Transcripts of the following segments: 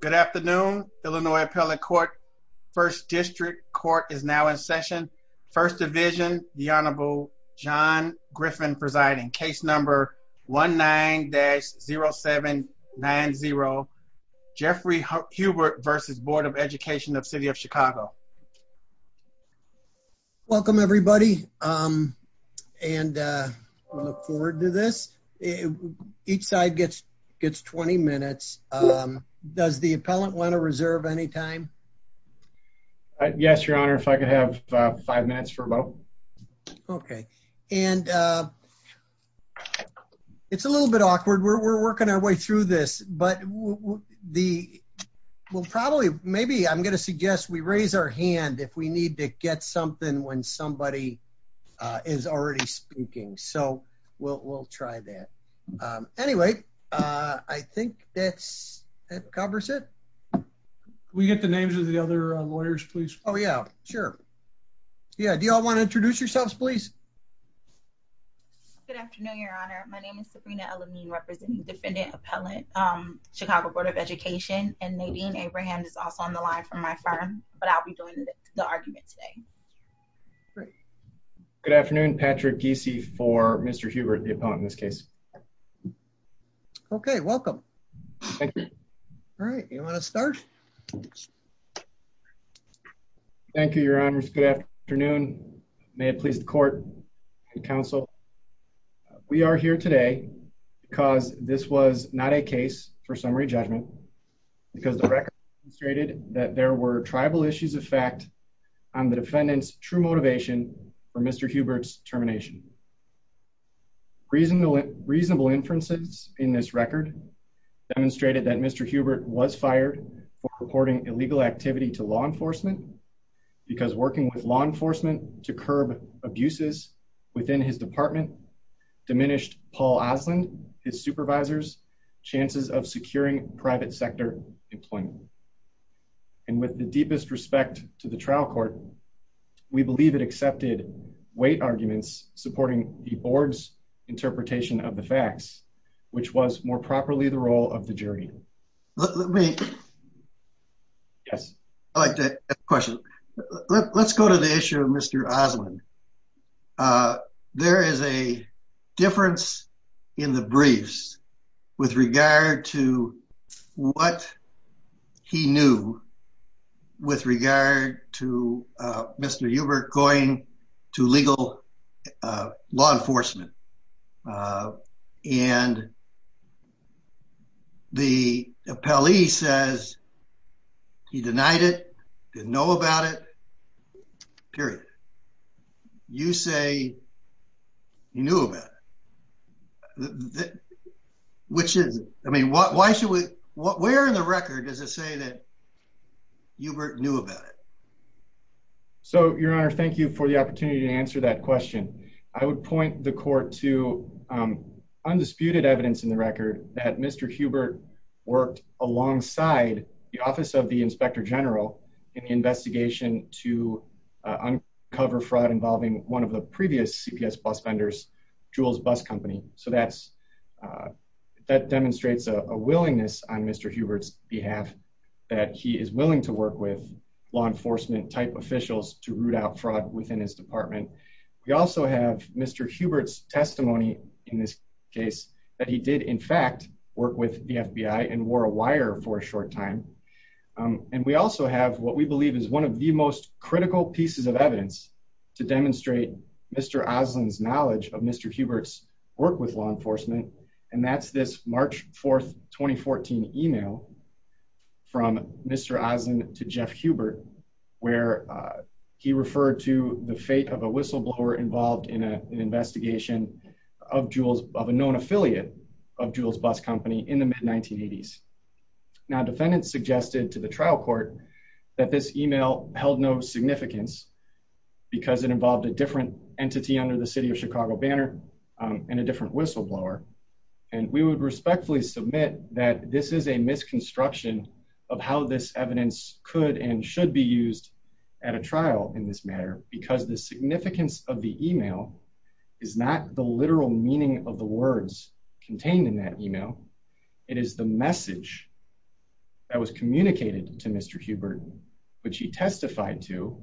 Good afternoon, Illinois Appellate Court. First District Court is now in session. First Division, the Honorable John Griffin presiding. Case number 1-9-0790, Jeffrey Hubert versus Board of Education of City of Chicago. Welcome, everybody, and we look forward to this. Each side gets 20 minutes. Does the appellant want to reserve any time? Yes, Your Honor, if I could have five minutes for a moment. Okay, and it's a little bit awkward. We're working our way through this, but the, well, probably, maybe I'm going to suggest we raise our hand if we need to get something when somebody is already speaking. So we'll try that. Anyway, I think that covers it. Can we get the names of the other lawyers, please? Oh, yeah, sure. Yeah, do you all want to introduce yourselves, please? Good afternoon, Your Honor. My name is Sabrina Ellamine, representing Defendant Appellant, Chicago Board of Education, and Nadine Abraham is also on the line from my firm, but I'll be doing the argument today. Great. Good afternoon, Patrick Giese for Mr. Hubert, the appellant in this case. Okay, welcome. Thank you. All right, you want to start? Thank you, Your Honor. Good afternoon. May it please the court and counsel. We are here today because this was not a case for summary judgment because the record stated that there were tribal issues of fact on the defendant's true motivation for Mr. Hubert's termination. Reasonable inferences in this record demonstrated that Mr. Hubert was fired for reporting illegal activity to law enforcement because working with law enforcement to curb abuses within his department diminished Paul Oslund, his supervisor's chances of securing private sector employment. And with the deepest respect to the trial court, we believe it accepted weight arguments supporting the board's interpretation of the facts, which was more properly the role of the jury. Let me, yes, I like that question. Let's go to the issue of Mr. Oslund. There is a difference in the briefs with regard to what he knew with regard to Mr. Hubert going to legal law enforcement. And the appellee says he denied it, didn't know about it, period. You say you knew about it. Which is, I mean, why should we, where in the record does it say that Hubert knew about it? So, Your Honor, thank you for the opportunity to answer that question. I would point the court to, um, undisputed evidence in the record that Mr. Hubert worked alongside the office of the Inspector General in the investigation to uncover fraud involving one of the previous CPS bus vendors, Jewel's Bus Company. So that's, uh, that demonstrates a willingness on Mr. Hubert's behalf that he is willing to work with law enforcement type officials to root out fraud within his department. We also have Mr. Hubert's testimony in this case that he did in fact work with the FBI and wore a wire for a short time. Um, and we also have what we believe is one of the most critical pieces of evidence to demonstrate Mr. Oslund's where, uh, he referred to the fate of a whistleblower involved in an investigation of Jewel's, of a known affiliate of Jewel's Bus Company in the mid 1980s. Now, defendants suggested to the trial court that this email held no significance because it involved a different entity under the city of Chicago banner, um, and a different whistleblower. And we would respectfully submit that this is a misconstruction of how this evidence could and should be used at a trial in this matter, because the significance of the email is not the literal meaning of the words contained in that email. It is the message that was communicated to Mr. Hubert, which he testified to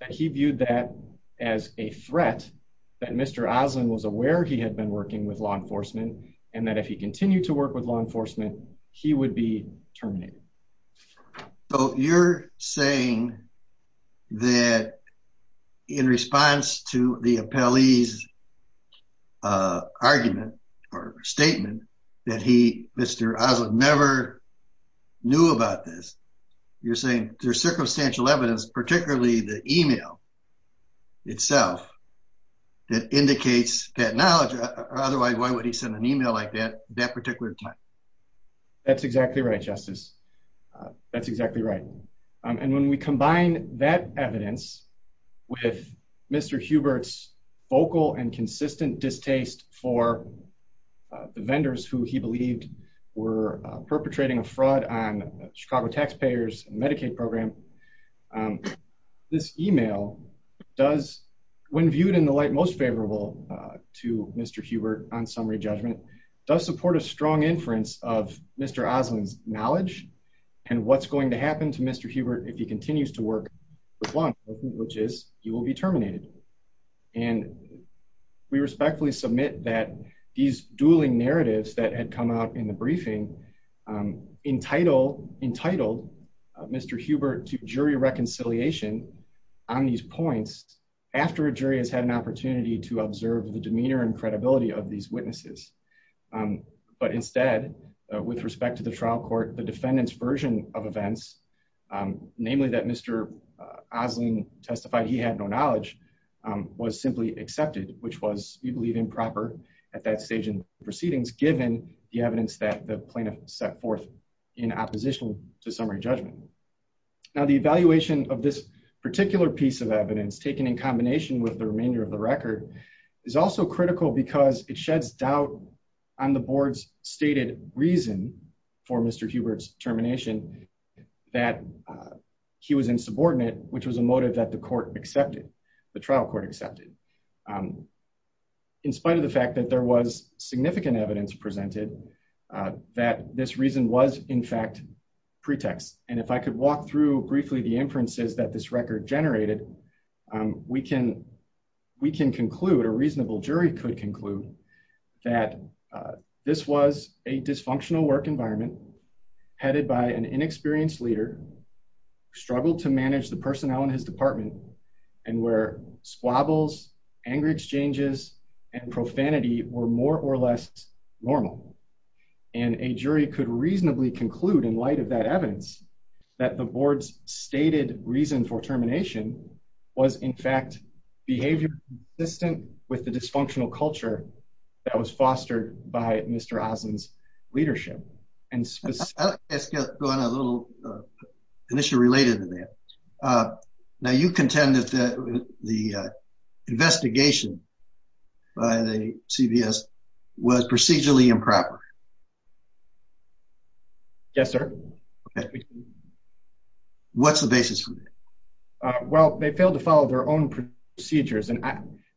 that he viewed that as a threat that Mr. Oslund was aware he had been working with law enforcement and that if he continued to work with law enforcement, he would be terminated. So you're saying that in response to the appellee's, uh, argument or statement that he, Mr. Oslund never knew about this, you're saying there's circumstantial evidence, particularly the email itself that indicates that knowledge. Otherwise, why would he send an email like that that particular time? That's exactly right. Justice. Uh, that's exactly right. Um, and when we combine that evidence with Mr. Hubert's vocal and consistent distaste for, uh, the vendors who he believed were perpetrating a fraud on Chicago taxpayers and Medicaid program, um, this email does when viewed in the light, most favorable, uh, to Mr. Hubert on summary judgment does support a strong inference of Mr. Oslund's knowledge and what's going to happen to Mr. Hubert. If he continues to work with one, which is you will be terminated. And we respectfully submit that these dueling narratives that had come out in the briefing, um, entitled entitled, uh, Mr. Hubert to jury reconciliation on these points after a jury has had an opportunity to observe the demeanor and credibility of these witnesses. Um, but instead, uh, with respect to the trial court, the defendant's version of events, um, namely that Mr. Oslund testified, he had no knowledge, um, was simply accepted, which was, we believe improper at that stage in proceedings, given the evidence that the plaintiff set forth in opposition to summary judgment. Now, the evaluation of this particular piece of evidence taken in combination with the remainder of the record is also critical because it sheds doubt on the board's stated reason for Mr. Hubert's termination that, uh, he was insubordinate, which was a motive that the court accepted the trial court accepted. Um, in spite of the fact that there was significant evidence presented, uh, that this reason was in fact pretext. And if I could walk through briefly, the inferences that this record generated, um, we can, we can conclude a reasonable jury could conclude that, uh, this was a dysfunctional work environment. Headed by an inexperienced leader struggled to manage the personnel in his department and where squabbles angry exchanges and profanity were more or less normal. And a jury could reasonably conclude in light of that evidence that the board's stated reason for termination was in fact behavior distant with the dysfunctional culture that was fostered by Mr. And let's go on a little, uh, an issue related to that. Uh, now you contended that the, uh, investigation by the CVS was procedurally improper. Yes, sir. What's the basis for that? Well, they failed to follow their own procedures.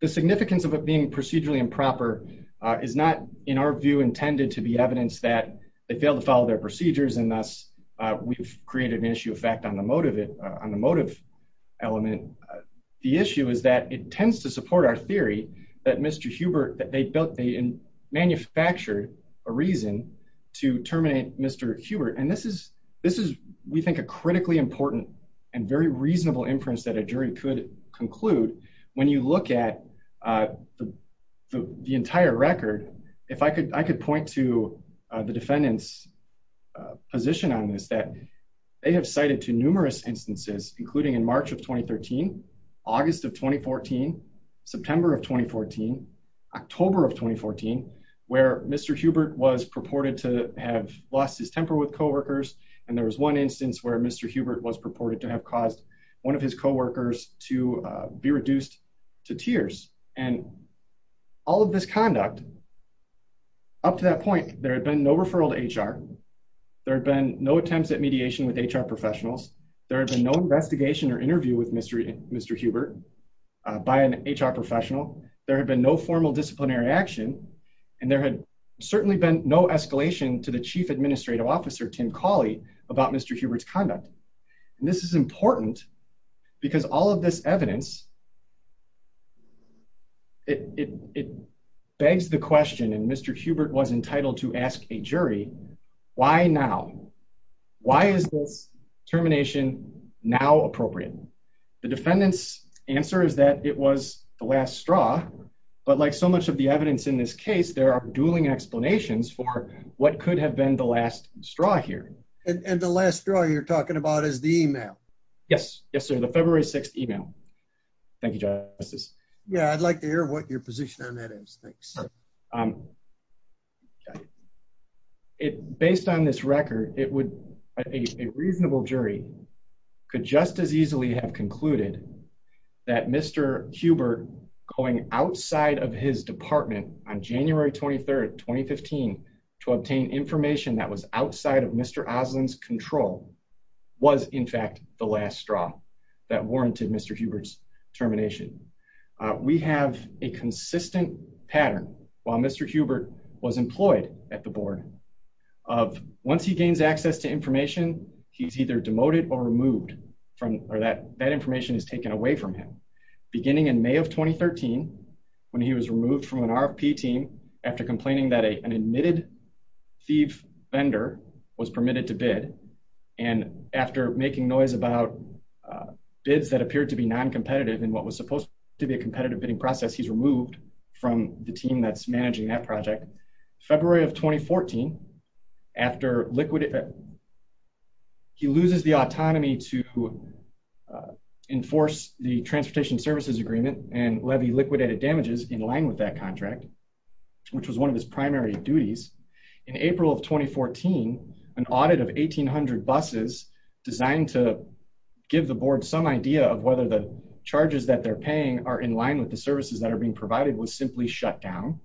The significance of it being procedurally improper, uh, is not in our view intended to be evidence that they failed to follow their procedures. And thus, uh, we've created an issue of fact on the motive it, uh, on the motive element. The issue is that it tends to support our theory that Mr. Hubert, that they built, they manufactured a reason to terminate Mr. Hubert. And this is, this is, we think a critically important and very reasonable inference that a jury could conclude when you look at, uh, the, the, the entire record. If I could, I could point to the defendant's position on this, that they have cited to numerous instances, including in March of 2013, August of 2014, September of 2014, October of 2014, where Mr. Hubert was purported to have lost his temper with coworkers. And there was one instance where Mr. Hubert was purported to have caused one of his coworkers to be reduced to tears. And all of this conduct up to that point, there had been no referral to HR. There had been no attempts at mediation with HR professionals. There had been no investigation or interview with Mr. Mr. Hubert, uh, by an HR professional. There had been no formal disciplinary action and there had certainly been no escalation to the chief administrative officer, Tim Cawley about Mr. Hubert's conduct. And this is important because all of this evidence, it, it, it begs the question. And Mr. Hubert was entitled to ask a jury why now, why is this termination now appropriate? The defendant's answer is that it was the last straw, but like so much of the evidence in this case, there are dueling explanations for what could have been the last straw here. And the last straw you're talking about is the email. Yes. Yes, sir. The February 6th email. Thank you, Justice. Yeah. I'd like to hear what your position on that is. Thanks. Um, okay. It based on this record, it would, a reasonable jury could just as easily have concluded that Mr. Hubert going outside of his department on January 23rd, 2015 to obtain information that was outside of Mr. Oslin's control was in fact, the last straw that warranted Mr. Hubert's termination. We have a consistent pattern while Mr. Hubert was employed at the board of once he gains access to information, he's either demoted or removed from, or that that information is taken away from him. Beginning in May of 2013, when he was removed from an RFP team after complaining that a, an admitted thief vendor was permitted to bid. And after making noise about, uh, bids that appeared to be non-competitive in what was supposed to be a competitive bidding process, he's removed from the team that's managing that project. February of 2014, after liquid, he loses the autonomy to, uh, enforce the transportation services agreement and levy liquidated damages in line with that contract, which was one of his primary duties. In April of 2014, an audit of 1800 buses designed to give the board some idea of whether the charges that they're paying are in line with the services that are being provided was simply shut down.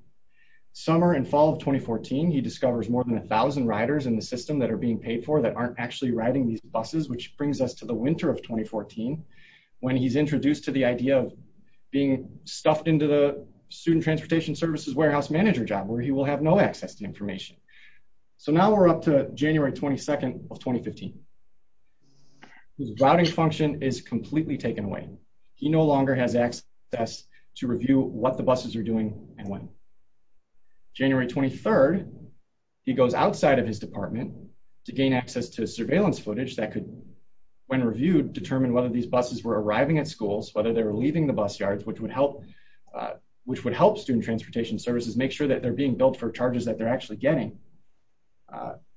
Summer and fall of 2014, he discovers more than a thousand riders in the system that are being paid for that aren't actually riding these buses, which brings us to the winter of 2014. When he's introduced to the idea of being stuffed into the student transportation services warehouse manager job where he will have no access to information. So now we're up to January 22nd of 2015. His routing function is completely taken away. He no longer has access to review what the buses are doing and when. January 23rd, he goes outside of his department to gain access to surveillance footage that could, when reviewed, determine whether these buses were arriving at schools, whether they were leaving the bus yards, which would help, which would help student transportation services, make sure that they're being billed for charges that they're actually getting.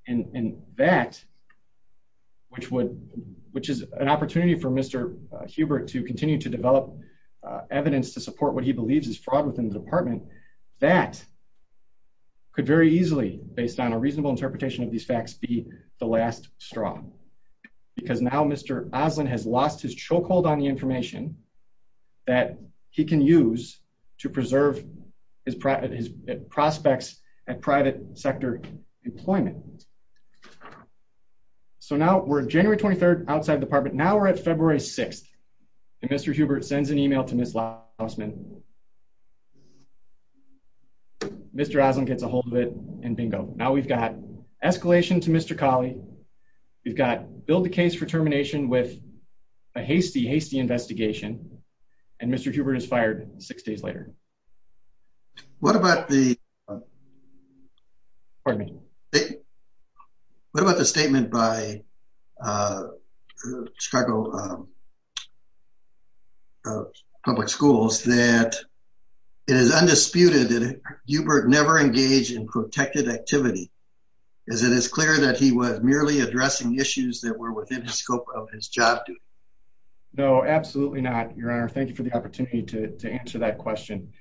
And that Which would, which is an opportunity for Mr. Hubert to continue to develop evidence to support what he believes is fraud within the department that Could very easily based on a reasonable interpretation of these facts be the last straw because now Mr. Oslin has lost his chokehold on the information. That he can use to preserve his private his prospects at private sector employment. So now we're January 23rd outside the department. Now we're at February 6 and Mr. Hubert sends an email to Ms. Lausman Mr. Oslin gets a hold of it and bingo. Now we've got escalation to Mr. Cawley. We've got billed the case for termination with a hasty, hasty investigation and Mr. Hubert is fired six days later. What about the Pardon me. What about the statement by Chicago Public Schools that it is undisputed that Hubert never engaged in protected activity. Is it as clear that he was merely addressing issues that were within the scope of his job. No, absolutely not. Your Honor. Thank you for the opportunity to answer that question.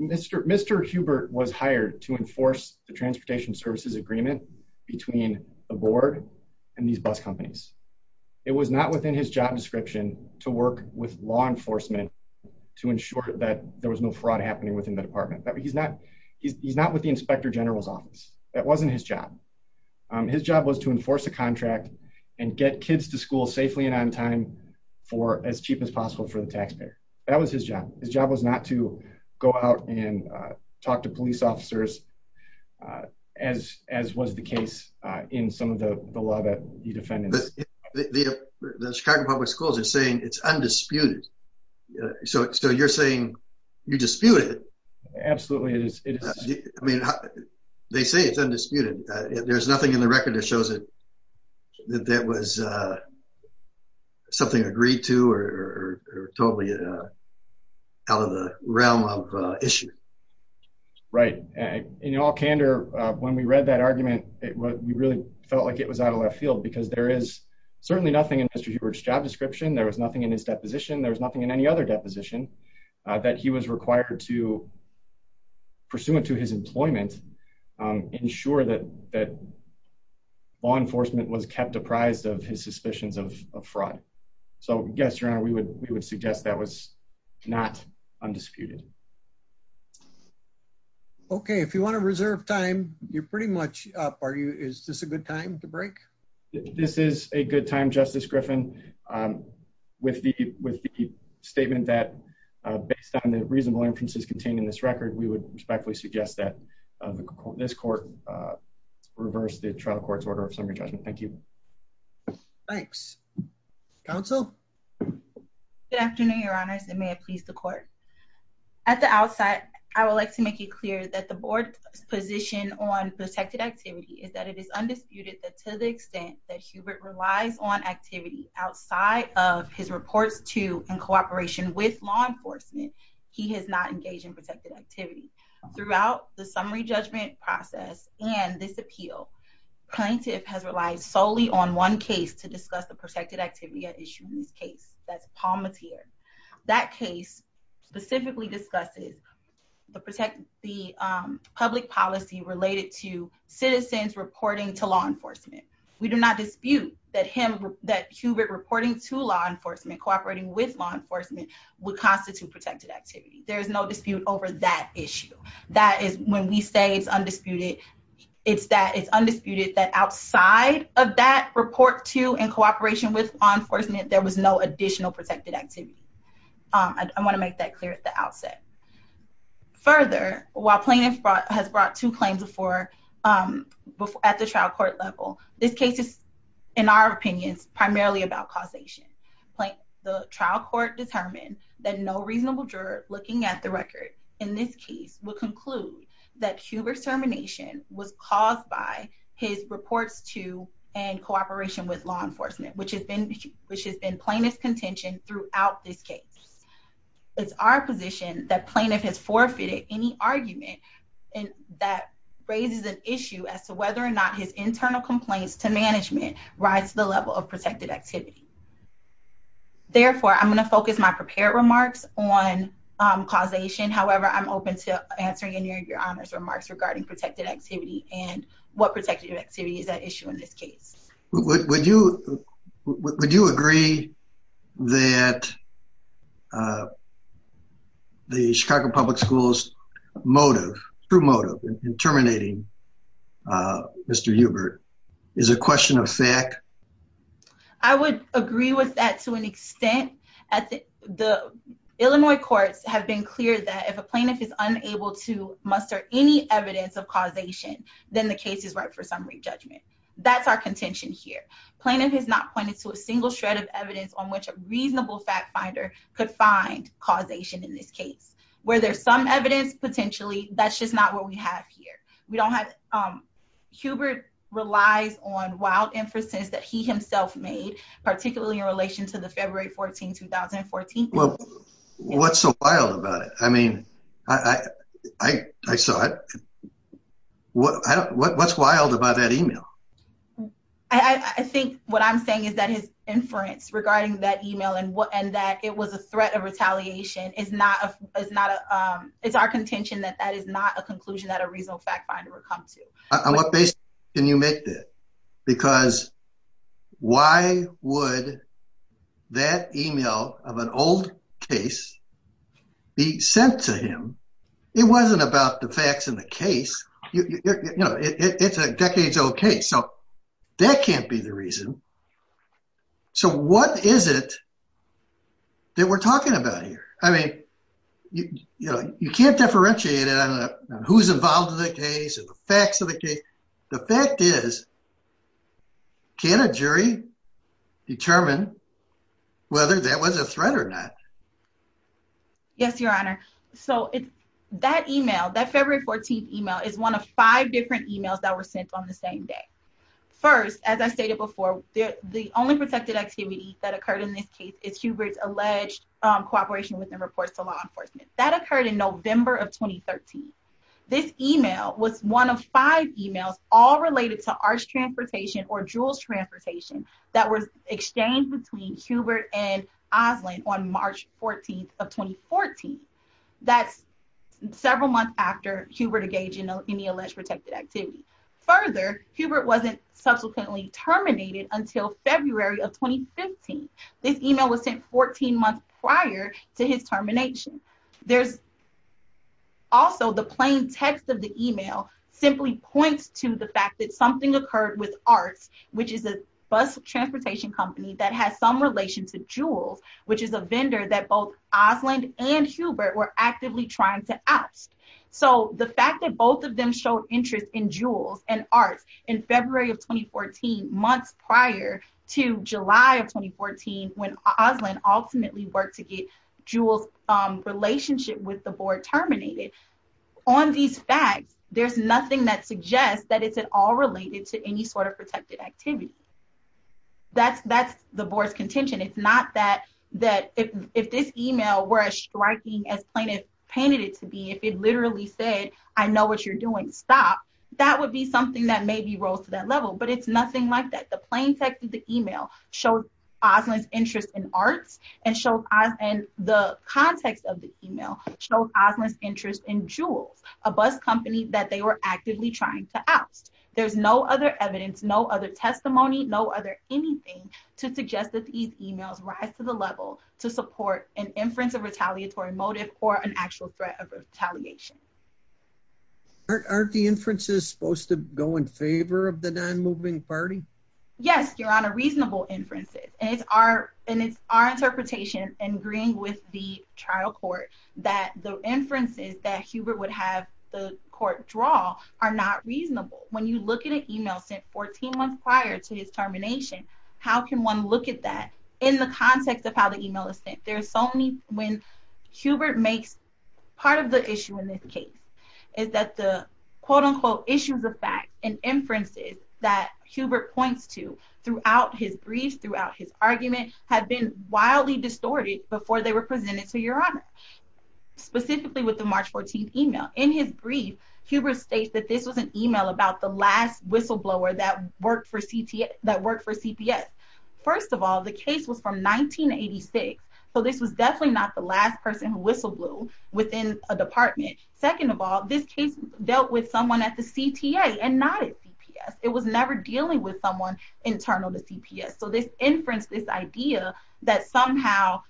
Mr. Hubert was hired to enforce the transportation services agreement between the board and these bus companies. It was not within his job description to work with law enforcement to ensure that there was no fraud happening within the department that he's not he's not with the inspector general's office. That wasn't his job. His job was to enforce a contract and get kids to school safely and on time for as cheap as possible for the taxpayer. That was his job. His job was not to go out and talk to police officers. As, as was the case in some of the law that he defended The Chicago Public Schools are saying it's undisputed. So, so you're saying you dispute it. Absolutely. I mean, they say it's undisputed. There's nothing in the record that shows it that that was Something agreed to or totally Out of the realm of issue. Right. And in all candor when we read that argument, it was we really felt like it was out of left field because there is certainly nothing in his job description. There was nothing in his deposition. There's nothing in any other deposition that he was required to Pursuant to his employment ensure that that Law Enforcement was kept apprised of his suspicions of fraud. So yes, your honor, we would we would suggest that was not undisputed Okay, if you want to reserve time you're pretty much up. Are you is this a good time to break This is a good time, Justice Griffin. With the with the statement that based on the reasonable inferences contained in this record, we would respectfully suggest that this court reverse the trial court's order of summary judgment. Thank you. Thanks counsel. Good afternoon, Your Honors, and may it please the court. At the outset, I would like to make it clear that the board position on protected activity is that it is undisputed that to the extent that Hubert relies on activity outside of his reports to in cooperation with law enforcement. He has not engaged in protected activity throughout the summary judgment process and this appeal. plaintiff has relied solely on one case to discuss the protected activity issue in this case that's Palmatier that case specifically discusses The protect the public policy related to citizens reporting to law enforcement. We do not dispute that him that Hubert reporting to law enforcement cooperating with law enforcement. Would constitute protected activity. There's no dispute over that issue that is when we say it's undisputed It's that it's undisputed that outside of that report to in cooperation with law enforcement. There was no additional protected activity. I want to make that clear at the outset. Further, while plaintiff has brought to claims before At the trial court level. This case is, in our opinions, primarily about causation. The trial court determined that no reasonable juror looking at the record in this case will conclude that Hubert's termination was caused by his reports to in cooperation with law enforcement, which has been Which has been plaintiff's contention throughout this case. It's our position that plaintiff has forfeited any argument. And that raises an issue as to whether or not his internal complaints to management rise to the level of protected activity. Therefore, I'm going to focus my prepared remarks on causation. However, I'm open to answering in your, your honors remarks regarding protected activity and what protected activity is that issue in this case. Would you would you agree that The Chicago Public Schools motive through motive in terminating Mr Hubert is a question of fact. I would agree with that to an extent at the Illinois courts have been clear that if a plaintiff is unable to muster any evidence of causation, then the case is right for summary judgment. That's our contention here plaintiff has not pointed to a single shred of evidence on which a reasonable fact finder could find causation in this case where there's some evidence potentially that's just not what we have here. We don't have Hubert relies on wild emphasis that he himself made, particularly in relation to the February 14 2014 What's so wild about it. I mean, I, I saw it. What's wild about that email. I think what I'm saying is that his inference regarding that email and what and that it was a threat of retaliation is not a is not a it's our contention that that is not a conclusion that a reasonable fact finder would come to On what basis. Can you make that because why would that email of an old case be sent to him. It wasn't about the facts in the case. You know, it's a decades. Okay, so that can't be the reason So what is it That we're talking about here. I mean, you know, you can't differentiate it on who's involved in the case of the facts of the case. The fact is, Can a jury determine whether that was a threat or not. Yes, Your Honor. So it's that email that February 14 email is one of five different emails that were sent on the same day. First, as I stated before, the only protected activity that occurred in this case is Hubert's alleged cooperation within reports to law enforcement that occurred in November of 2013 This email was one of five emails all related to our transportation or jewels transportation that was exchanged between Hubert and Auslan on March 14 of 2014 That's several months after Hubert engaged in any alleged protected activity. Further, Hubert wasn't subsequently terminated until February of 2015 this email was sent 14 months prior to his termination, there's Also, the plain text of the email simply points to the fact that something occurred with arts, which is a Bus transportation company that has some relation to jewels, which is a vendor that both Auslan and Hubert were actively trying to ask So the fact that both of them showed interest in jewels and arts in February of 2014 months prior to July of 2014 when Auslan ultimately worked to get jewels relationship with the board terminated. On these facts, there's nothing that suggests that it's at all related to any sort of protected activity. That's, that's the board's contention. It's not that that if if this email were as striking as plaintiff painted it to be if it literally said I know what you're doing. Stop. That would be something that maybe rose to that level, but it's nothing like that. The plain text of the email showed Auslan's interest in arts and showed us and the context of the email showed Auslan's interest in jewels, a bus company that they were actively trying to oust There's no other evidence. No other testimony. No other anything to suggest that these emails rise to the level to support an inference of retaliatory motive or an actual threat of retaliation. Aren't the inferences supposed to go in favor of the non moving party. Yes, Your Honor, reasonable inferences and it's our and it's our interpretation and agreeing with the trial court that the inferences that Hubert would have the court draw Are not reasonable. When you look at an email sent 14 months prior to his termination. How can one look at that in the context of how the email is sent. There's so many when Part of the issue in this case is that the quote unquote issues of fact and inferences that Hubert points to throughout his briefs throughout his argument had been wildly distorted before they were presented to Your Honor. Specifically with the March 14 email in his brief Hubert states that this was an email about the last whistleblower that worked for CPS First of all, the case was from 1986. So this was definitely not the last person who whistleblow within a department. Second of all, this case dealt with someone at the CTA and not It was never dealing with someone internal to CPS. So this inference. This idea that somehow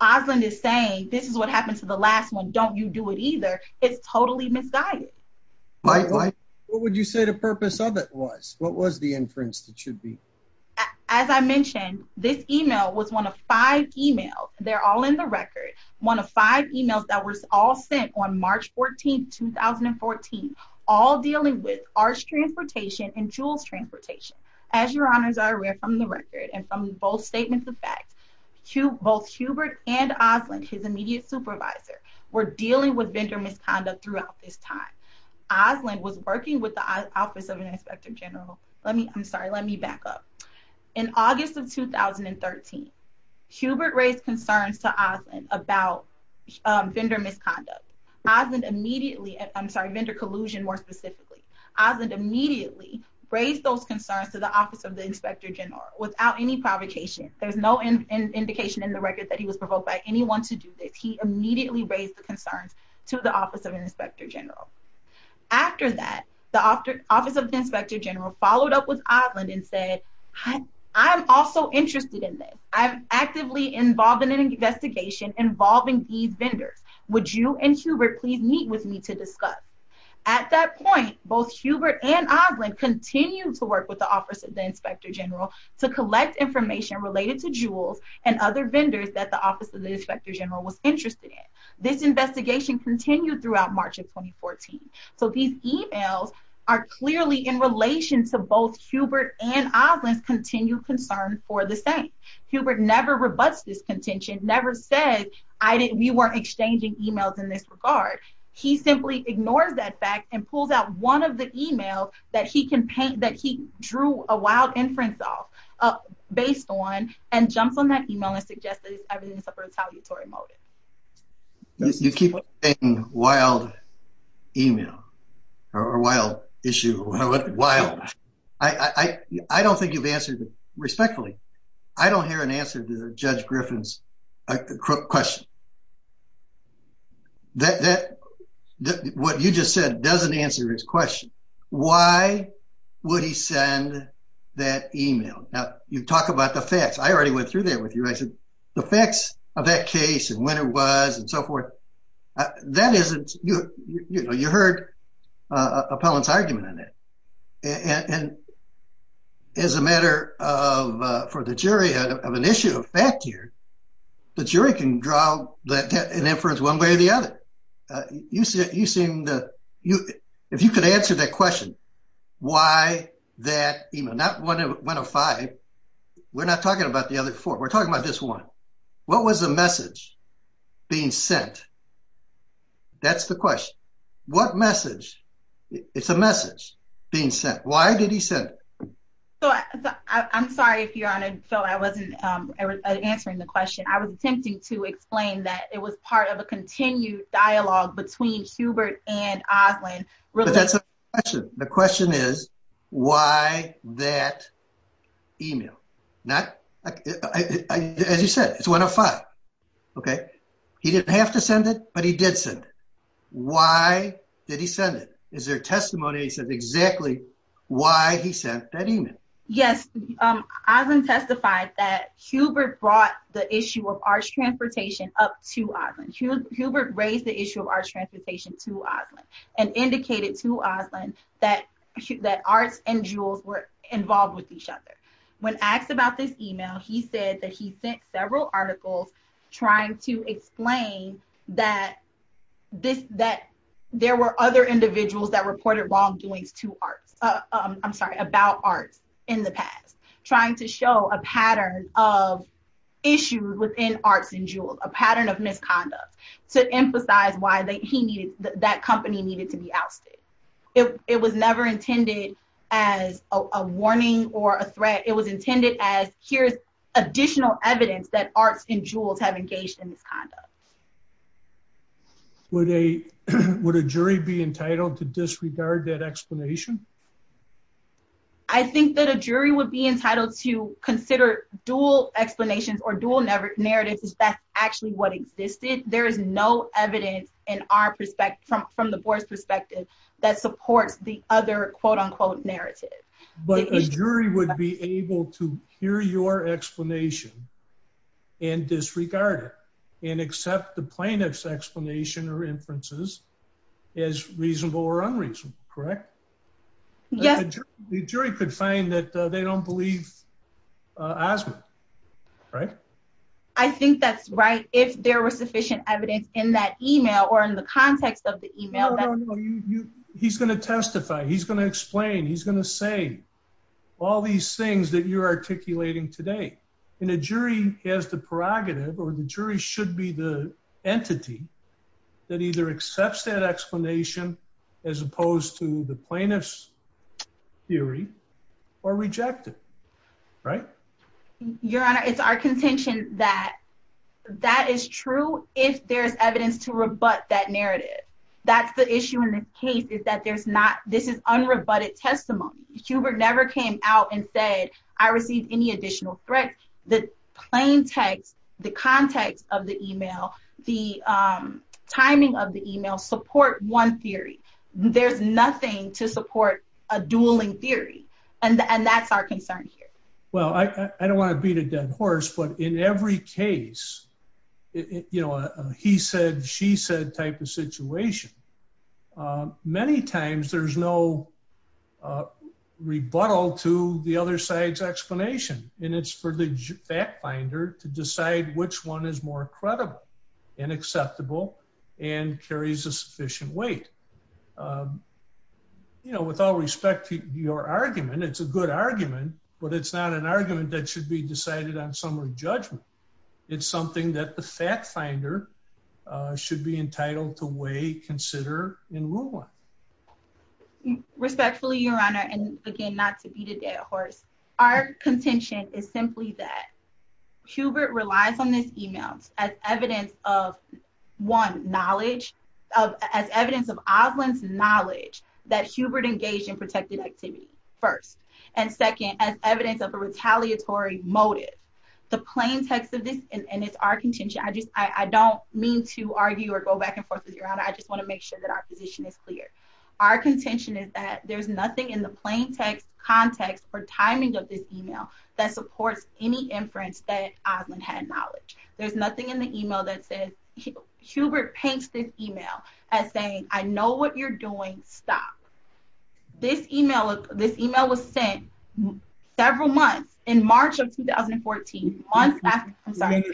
Osmond is saying this is what happened to the last one. Don't you do it either. It's totally misguided. What would you say the purpose of it was what was the inference that should be As I mentioned, this email was one of five emails. They're all in the record. One of five emails that was all sent on March 14 2014 All dealing with our transportation and jewels transportation as your honors are rare from the record and from both statements of fact. To both Hubert and Osmond his immediate supervisor were dealing with vendor misconduct throughout this time. Osmond was working with the Office of an Inspector General. Let me, I'm sorry, let me back up in August of 2013 Hubert raised concerns to Osmond about vendor misconduct. Osmond immediately. I'm sorry, vendor collusion, more specifically. Osmond immediately raised those concerns to the Office of the Inspector General without any provocation. There's no Indication in the record that he was provoked by anyone to do this. He immediately raised the concerns to the Office of an Inspector General After that, the Office of the Inspector General followed up with Osmond and said, I'm also interested in this. I'm actively involved in an investigation involving these vendors. Would you and Hubert please meet with me to discuss At that point, both Hubert and Osmond continue to work with the Office of the Inspector General to collect information related to jewels and other vendors that the Office of the Inspector General was interested in This investigation continued throughout March of 2014 so these emails are clearly in relation to both Hubert and Osmond's continued concern for the same. Hubert never rebuts this contention, never said I didn't, we weren't exchanging emails in this regard. He simply ignores that fact and pulls out one of the emails that he can paint that he drew a wild inference off Based on and jumps on that email and suggests that it's a retaliatory motive. You keep saying wild email or wild issue. Wild. I don't think you've answered respectfully. I don't hear an answer to Judge Griffin's question. That what you just said doesn't answer his question. Why would he send that email. Now you've talked about the facts. I already went through there with you. I said the facts of that case and when it was and so forth, that isn't, you know, you heard Appellant's argument on it and As a matter of for the jury of an issue of fact here, the jury can draw an inference one way or the other. You seem to, if you could answer that question. Why that email, not one of five. We're not talking about the other four. We're talking about this one. What was the message being sent? That's the question. What message. It's a message being sent. Why did he said So, I'm sorry if you're on and so I wasn't answering the question. I was attempting to explain that it was part of a continued dialogue between Hubert and Oslin. That's the question. The question is, why that email not As you said, it's one of five. Okay. He didn't have to send it, but he did said, why did he send it. Is there testimony said exactly why he sent that email. Yes, I've been testified that Hubert brought the issue of arts transportation up to Oslin. Hubert raised the issue of arts transportation to Oslin and indicated to Oslin that That arts and jewels were involved with each other. When asked about this email. He said that he sent several articles, trying to explain that This that there were other individuals that reported wrongdoings to arts. I'm sorry about arts in the past, trying to show a pattern of Issues within arts and jewels, a pattern of misconduct to emphasize why they he needed that company needed to be ousted. It was never intended as a warning or a threat. It was intended as here's additional evidence that arts and jewels have engaged in this conduct. Would a, would a jury be entitled to disregard that explanation. I think that a jury would be entitled to consider dual explanations or dual never narrative is that actually what existed. There is no evidence in our perspective from from the board's perspective that supports the other quote unquote narrative. But a jury would be able to hear your explanation. And disregard it and accept the plaintiff's explanation or inferences is reasonable or unreasonable. Correct. Yeah, the jury could find that they don't believe Oswin. Right. I think that's right. If there was sufficient evidence in that email or in the context of the email. You he's going to testify. He's going to explain. He's going to say all these things that you're articulating today in a jury has the prerogative or the jury should be the entity that either accepts that explanation, as opposed to the plaintiff's theory or rejected right Your Honor, it's our contention that that is true if there's evidence to rebut that narrative. That's the issue in this case is that there's not this is unrebutted testimony Hubert never came out and said I received any additional threat that plain text, the context of the email the Timing of the email support one theory. There's nothing to support a dueling theory and and that's our concern here. Well, I don't want to beat a dead horse, but in every case, you know, he said she said type of situation. Many times there's no rebuttal to the other side's explanation and it's for the fact finder to decide which one is more credible and acceptable and carries a sufficient weight. You know, with all respect to your argument. It's a good argument, but it's not an argument that should be decided on summary judgment. It's something that the fact finder should be entitled to weigh consider in rule one Respectfully, Your Honor, and again not to beat a dead horse. Our contention is simply that Hubert relies on this email as evidence of One knowledge of as evidence of Auslan's knowledge that Hubert engaged in protected activity first and second as evidence of a retaliatory motive. The plain text of this and it's our contention. I just, I don't mean to argue or go back and forth with your honor. I just want to make sure that our position is clear. Our contention is that there's nothing in the plain text context for timing of this email that supports any inference that Auslan had knowledge. There's nothing in the email that says Hubert paints this email as saying, I know what you're doing. Stop this email. This email was sent several months in March of 2014 months. Understand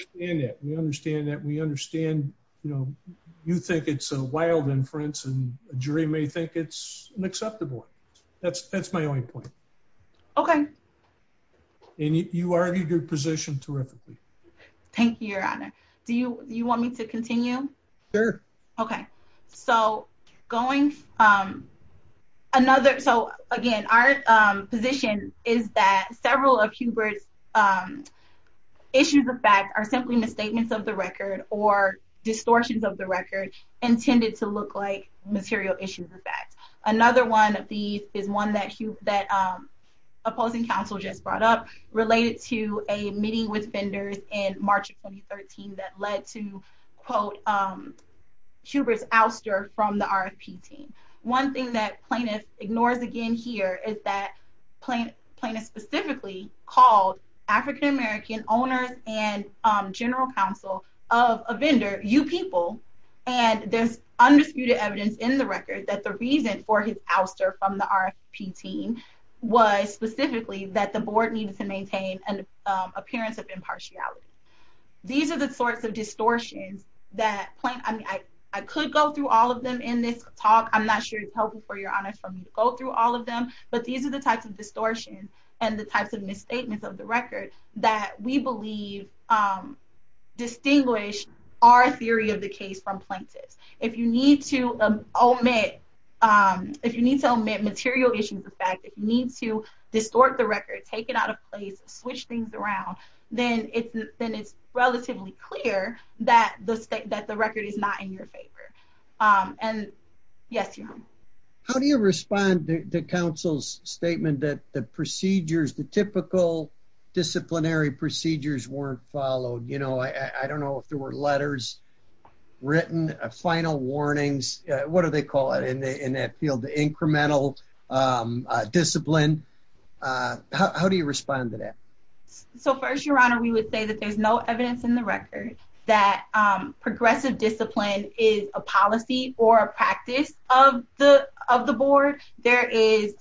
that we understand, you know, you think it's a wild inference and jury may think it's an acceptable. That's, that's my only point. Okay. And you argued your position terrifically. Thank you, Your Honor. Do you, do you want me to continue Sure. Okay, so going Another. So again, our position is that several of Hubert's Issues of fact are simply misstatements of the record or distortions of the record intended to look like material issues of fact. Another one of these is one that you that Alludes to a meeting with vendors in March of 2013 that led to, quote, Hubert's ouster from the RFP team. One thing that plaintiff ignores again here is that plaintiff specifically called African American owners and Specifically that the board needed to maintain an appearance of impartiality. These are the sorts of distortions that I could go through all of them in this talk. I'm not sure it's helpful for, Your Honor, for me to go through all of them, but these are the types of distortion and the types of misstatements of the record that we believe Distinguish our theory of the case from plaintiff's. If you need to omit If you need to omit material issues of fact, if you need to distort the record, take it out of place, switch things around, then it's then it's relatively clear that the state that the record is not in your favor. And yes, Your Honor. How do you respond to counsel's statement that the procedures, the typical disciplinary procedures weren't followed, you know, I don't know if there were letters written a final warnings. What do they call it in the in that field, the incremental Discipline. How do you respond to that. So first, Your Honor, we would say that there's no evidence in the record that progressive discipline is a policy or a practice of the of the board. There is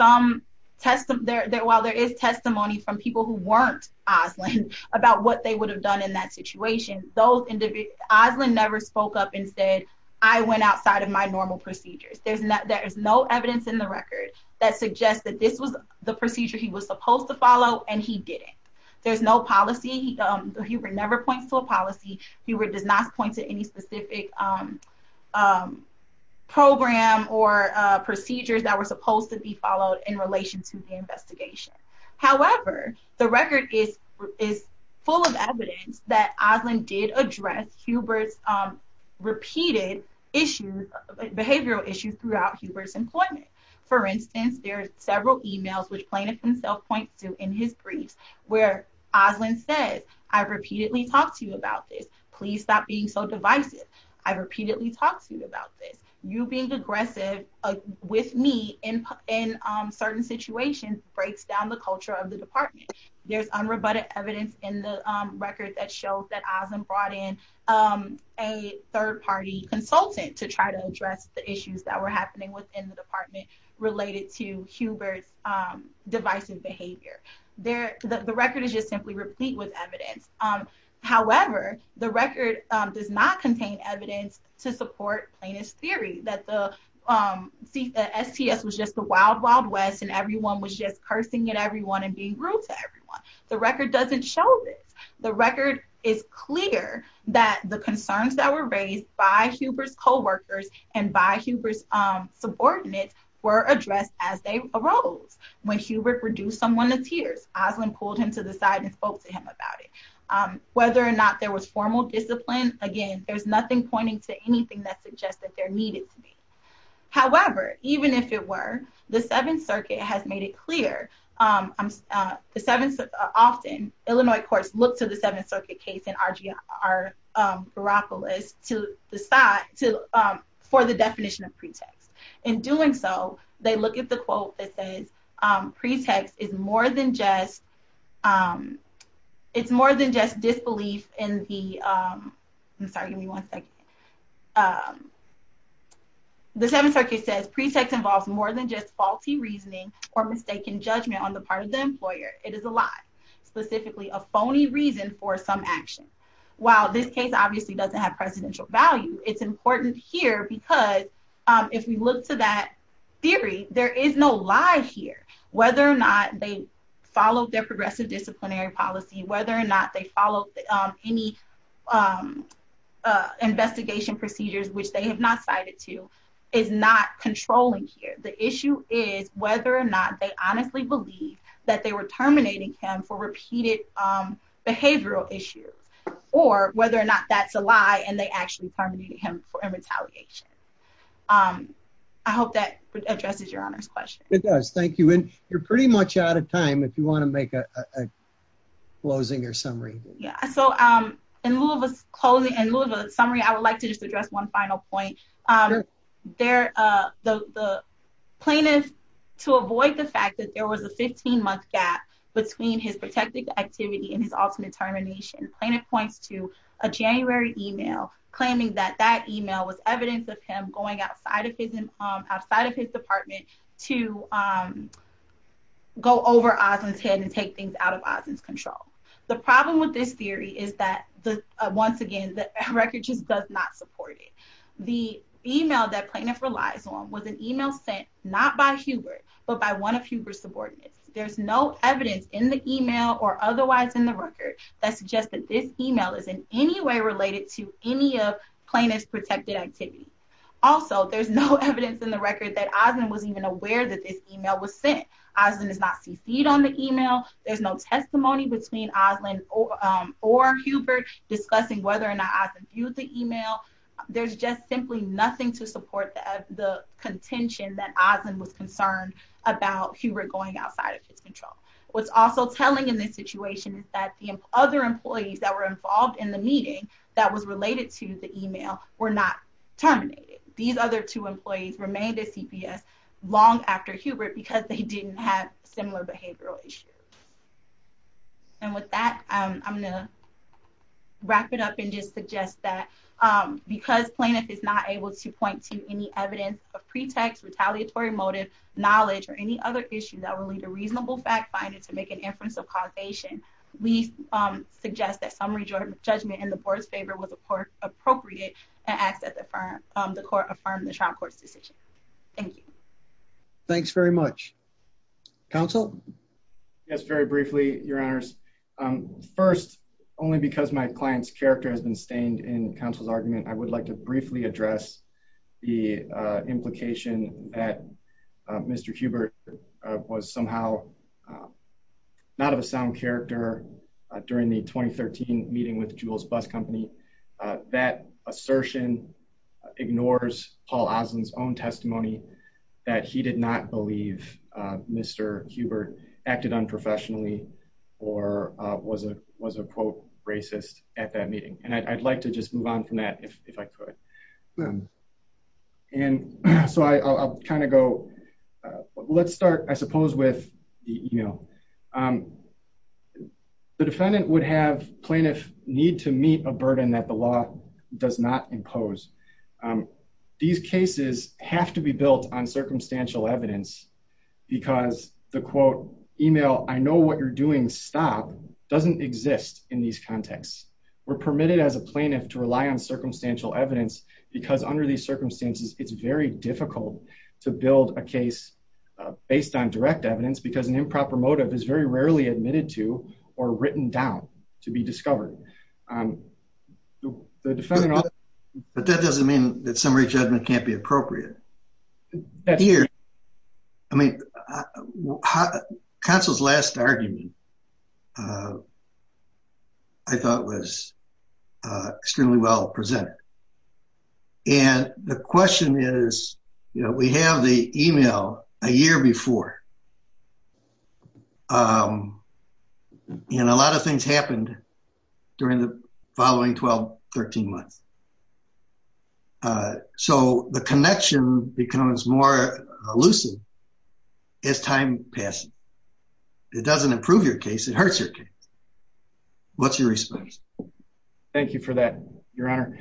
Some test them there that while there is testimony from people who weren't Oslin about what they would have done in that situation, those individuals never spoke up and said I went outside of my normal procedures. There's not, there is no evidence in the record that suggests that this was the procedure. He was supposed to follow and he did it. There's no policy. He would never points to a policy. He would does not point to any specific Program or procedures that were supposed to be followed in relation to the investigation. However, the record is is full of evidence that Oslin did address Hubert's Repeated issues behavioral issues throughout Hubert's employment. For instance, there are several emails which plaintiff himself points to in his briefs. Where Oslin says I repeatedly talked to you about this, please stop being so divisive. I repeatedly talked to you about this, you being aggressive. With me in in certain situations breaks down the culture of the department. There's unrebutted evidence in the record that shows that Oslin brought in. A third party consultant to try to address the issues that were happening within the department related to Hubert's divisive behavior. The record is just simply replete with evidence. However, the record does not contain evidence to support plaintiff's theory that the STS was just a wild, wild West and everyone was just cursing at everyone and being rude to everyone. The record doesn't show this. The record is clear that the concerns that were raised by Hubert's coworkers and by Hubert's subordinates were addressed as they arose. When Hubert reduced someone to tears, Oslin pulled him to the side and spoke to him about it. Whether or not there was formal discipline. Again, there's nothing pointing to anything that suggests that there needed to be. However, even if it were, the Seventh Circuit has made it clear. Often, Illinois courts look to the Seventh Circuit case in R.G.R. Baropoulos for the definition of pretext. In doing so, they look at the quote that says pretext is more than just It's more than just disbelief in the I'm sorry, give me one second. The Seventh Circuit says pretext involves more than just faulty reasoning or mistaken judgment on the part of the employer. It is a lie, specifically a phony reason for some action. While this case obviously doesn't have presidential value, it's important here because if we look to that theory, there is no lie here. Whether or not they follow their progressive disciplinary policy, whether or not they follow any investigation procedures, which they have not cited to, is not controlling here. The issue is whether or not they honestly believe that they were terminating him for repeated behavioral issues or whether or not that's a lie and they actually terminated him for retaliation. I hope that addresses your honor's question. It does. Thank you. And you're pretty much out of time. If you want to make a closing or summary. Yeah, so in lieu of a summary, I would like to just address one final point. The plaintiff, to avoid the fact that there was a 15 month gap between his protected activity and his ultimate termination, the plaintiff points to a January email claiming that that email was evidence of him going outside of his department to go over Osmond's head and take things out of Osmond's control. The problem with this theory is that the, once again, the record just does not support it. The email that plaintiff relies on was an email sent not by Hubert, but by one of Hubert's subordinates. There's no evidence in the email or otherwise in the record that suggests that this email is in any way related to any of plaintiff's protected activity. Also, there's no evidence in the record that Osmond was even aware that this email was sent. Osmond is not CC'd on the email. There's no testimony between Osmond or Hubert discussing whether or not Osmond viewed the email. There's just simply nothing to support the contention that Osmond was concerned about Hubert going outside of his control. What's also telling in this situation is that the other employees that were involved in the meeting that was related to the email were not terminated. These other two employees remained at CPS long after Hubert because they didn't have similar behavioral issues. And with that, I'm going to issue that would lead to a reasonable fact-finding to make an inference of causation. We suggest that summary judgment in the board's favor was appropriate and asked that the court affirm the trial court's decision. Thank you. Thanks very much. Counsel? Yes. Very briefly, your Honors, first only because my client's character has been stained and counsel's argument, I would like to briefly address the implication that Mr. Hubert was somehow not of a sound character during the 2013 meeting with Jules Bus Company. That assertion ignores Paul Oslin's own testimony that he did not believe Mr. Hubert acted unprofessionally or was a, was a quote, racist at that meeting. And I'd like to just move on from that if I could. And so I'll kind of go, let's start, I suppose, with the email. The defendant would have plaintiff need to meet a burden that the law does not impose. These cases have to be built on circumstantial evidence because the quote email, I know what you're doing. Stop doesn't exist in these contexts. We're permitted as a plaintiff to rely on circumstantial evidence because under these circumstances, it's very difficult to build a case based on direct evidence because an improper motive is very rarely admitted to or written down to be discovered. But that doesn't mean that summary judgment can't be appropriate. I mean, counsel's last argument I thought was extremely well presented. And the question is, you know, we have the email a year before. And a lot of things happened during the following 12, 13 months. So the connection becomes more elusive as time passes. It doesn't improve your case. It hurts your case. What's your response? Thank you for that, your honor.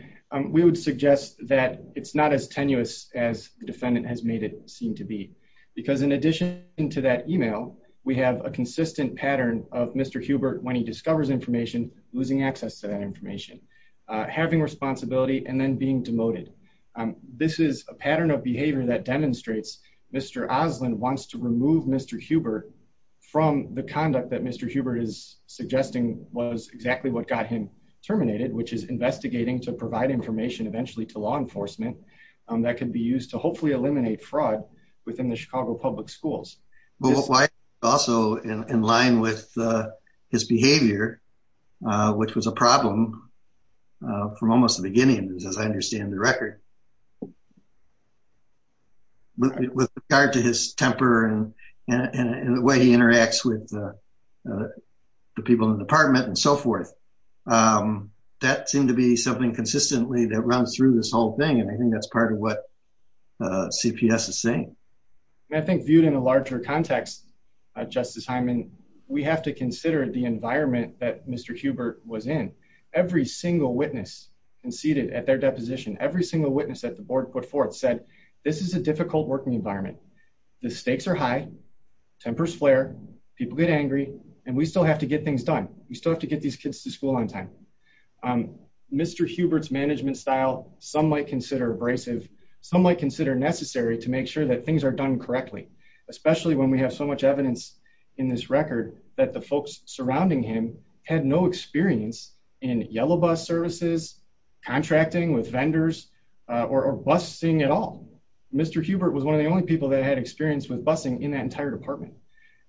We would suggest that it's not as tenuous as the defendant has made it seem to be. Because in addition to that email, we have a consistent pattern of Mr. Hubert when he discovers information, losing access to that information, having responsibility and then being demoted. This is a pattern of behavior that demonstrates Mr. Oslin wants to remove Mr. Hubert from the conduct that Mr. Hubert is suggesting was exactly what got him terminated, which is investigating to provide information eventually to law enforcement. That can be used to hopefully eliminate fraud within the Chicago public schools. Well, also in line with his behavior, which was a problem from almost the beginning, as I understand the record. With regard to his temper and the way he interacts with the people in the department and so forth. That seemed to be something consistently that runs through this whole thing. And I think that's part of what CPS is saying. I think viewed in a larger context, Justice Hyman, we have to consider the environment that Mr. Hubert was in. Every single witness conceded at their deposition, every single witness that the board put forth said, this is a difficult working environment. The stakes are high, tempers flare, people get angry, and we still have to get things done. We still have to get these kids to school on time. Mr. Hubert's management style, some might consider abrasive, some might consider necessary to make sure that things are done correctly. Especially when we have so much evidence in this record that the folks surrounding him had no experience in yellow bus services, contracting with vendors or busing at all. Mr. Hubert was one of the only people that had experience with busing in that entire department.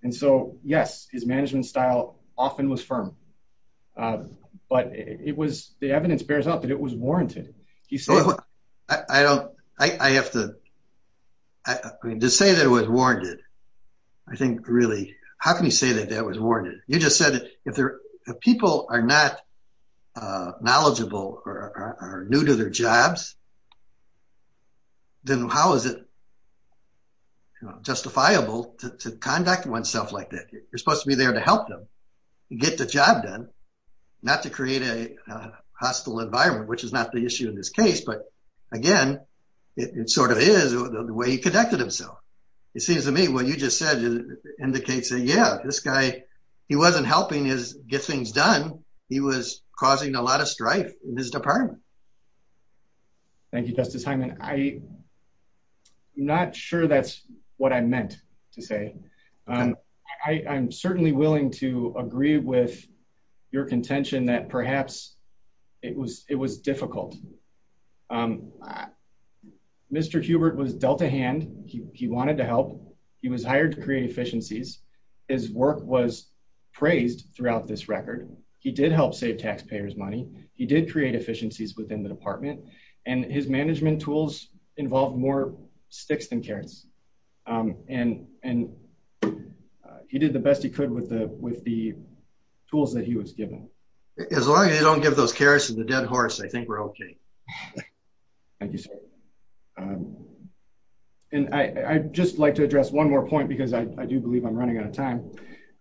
And so, yes, his management style often was firm. But it was the evidence bears out that it was warranted. He said... I don't, I have to, to say that it was warranted, I think really, how can you say that that was warranted? You just said that if people are not knowledgeable or are new to their jobs, then how is it justifiable to conduct oneself like that? You're supposed to be there to help them get the job done, not to create a hostile environment, which is not the issue in this case. But again, it sort of is the way he conducted himself. It seems to me what you just said indicates that, yeah, this guy, he wasn't helping us get things done. He was causing a lot of strife in his department. Thank you, Justice Hyman. I'm not sure that's what I meant to say. I'm certainly willing to agree with your contention that perhaps it was difficult. Mr. Hubert was dealt a hand. He wanted to help. He was hired to create efficiencies. His work was praised throughout this record. He did help save taxpayers money. He did create efficiencies within the department. And his management tools involved more sticks than carrots. And he did the best he could with the tools that he was given. As long as they don't give those carrots to the dead horse, I think we're okay. Thank you, sir. And I'd just like to address one more point because I do believe I'm running out of time.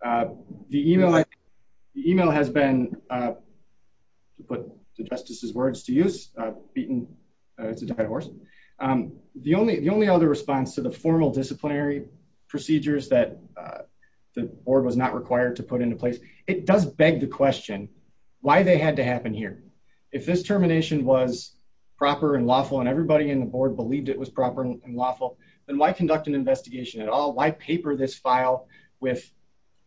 The email has been, to put the justice's words to use, beaten to the dead horse. The only other response to the formal disciplinary procedures that the board was not required to put into place, it does beg the question why they had to happen here. If this termination was proper and lawful and everybody in the board believed it was proper and lawful, then why conduct an investigation at all? Why paper this file with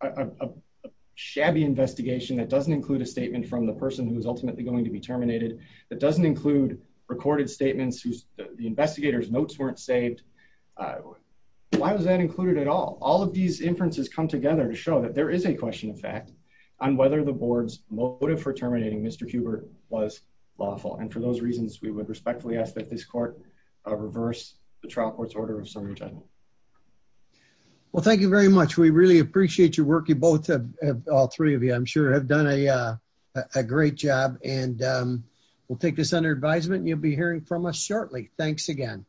a shabby investigation that doesn't include a statement from the person who was ultimately going to be terminated, that the investigator's notes weren't saved? Why was that included at all? All of these inferences come together to show that there is a question of fact on whether the board's motive for terminating Mr. Hubert was lawful. And for those reasons, we would respectfully ask that this court reverse the trial court's order of summary judgment. Well, thank you very much. We really appreciate your work. You both, all three of you, I'm sure have done a great job and we'll take this under advisement and you'll be hearing from us shortly. Thanks again.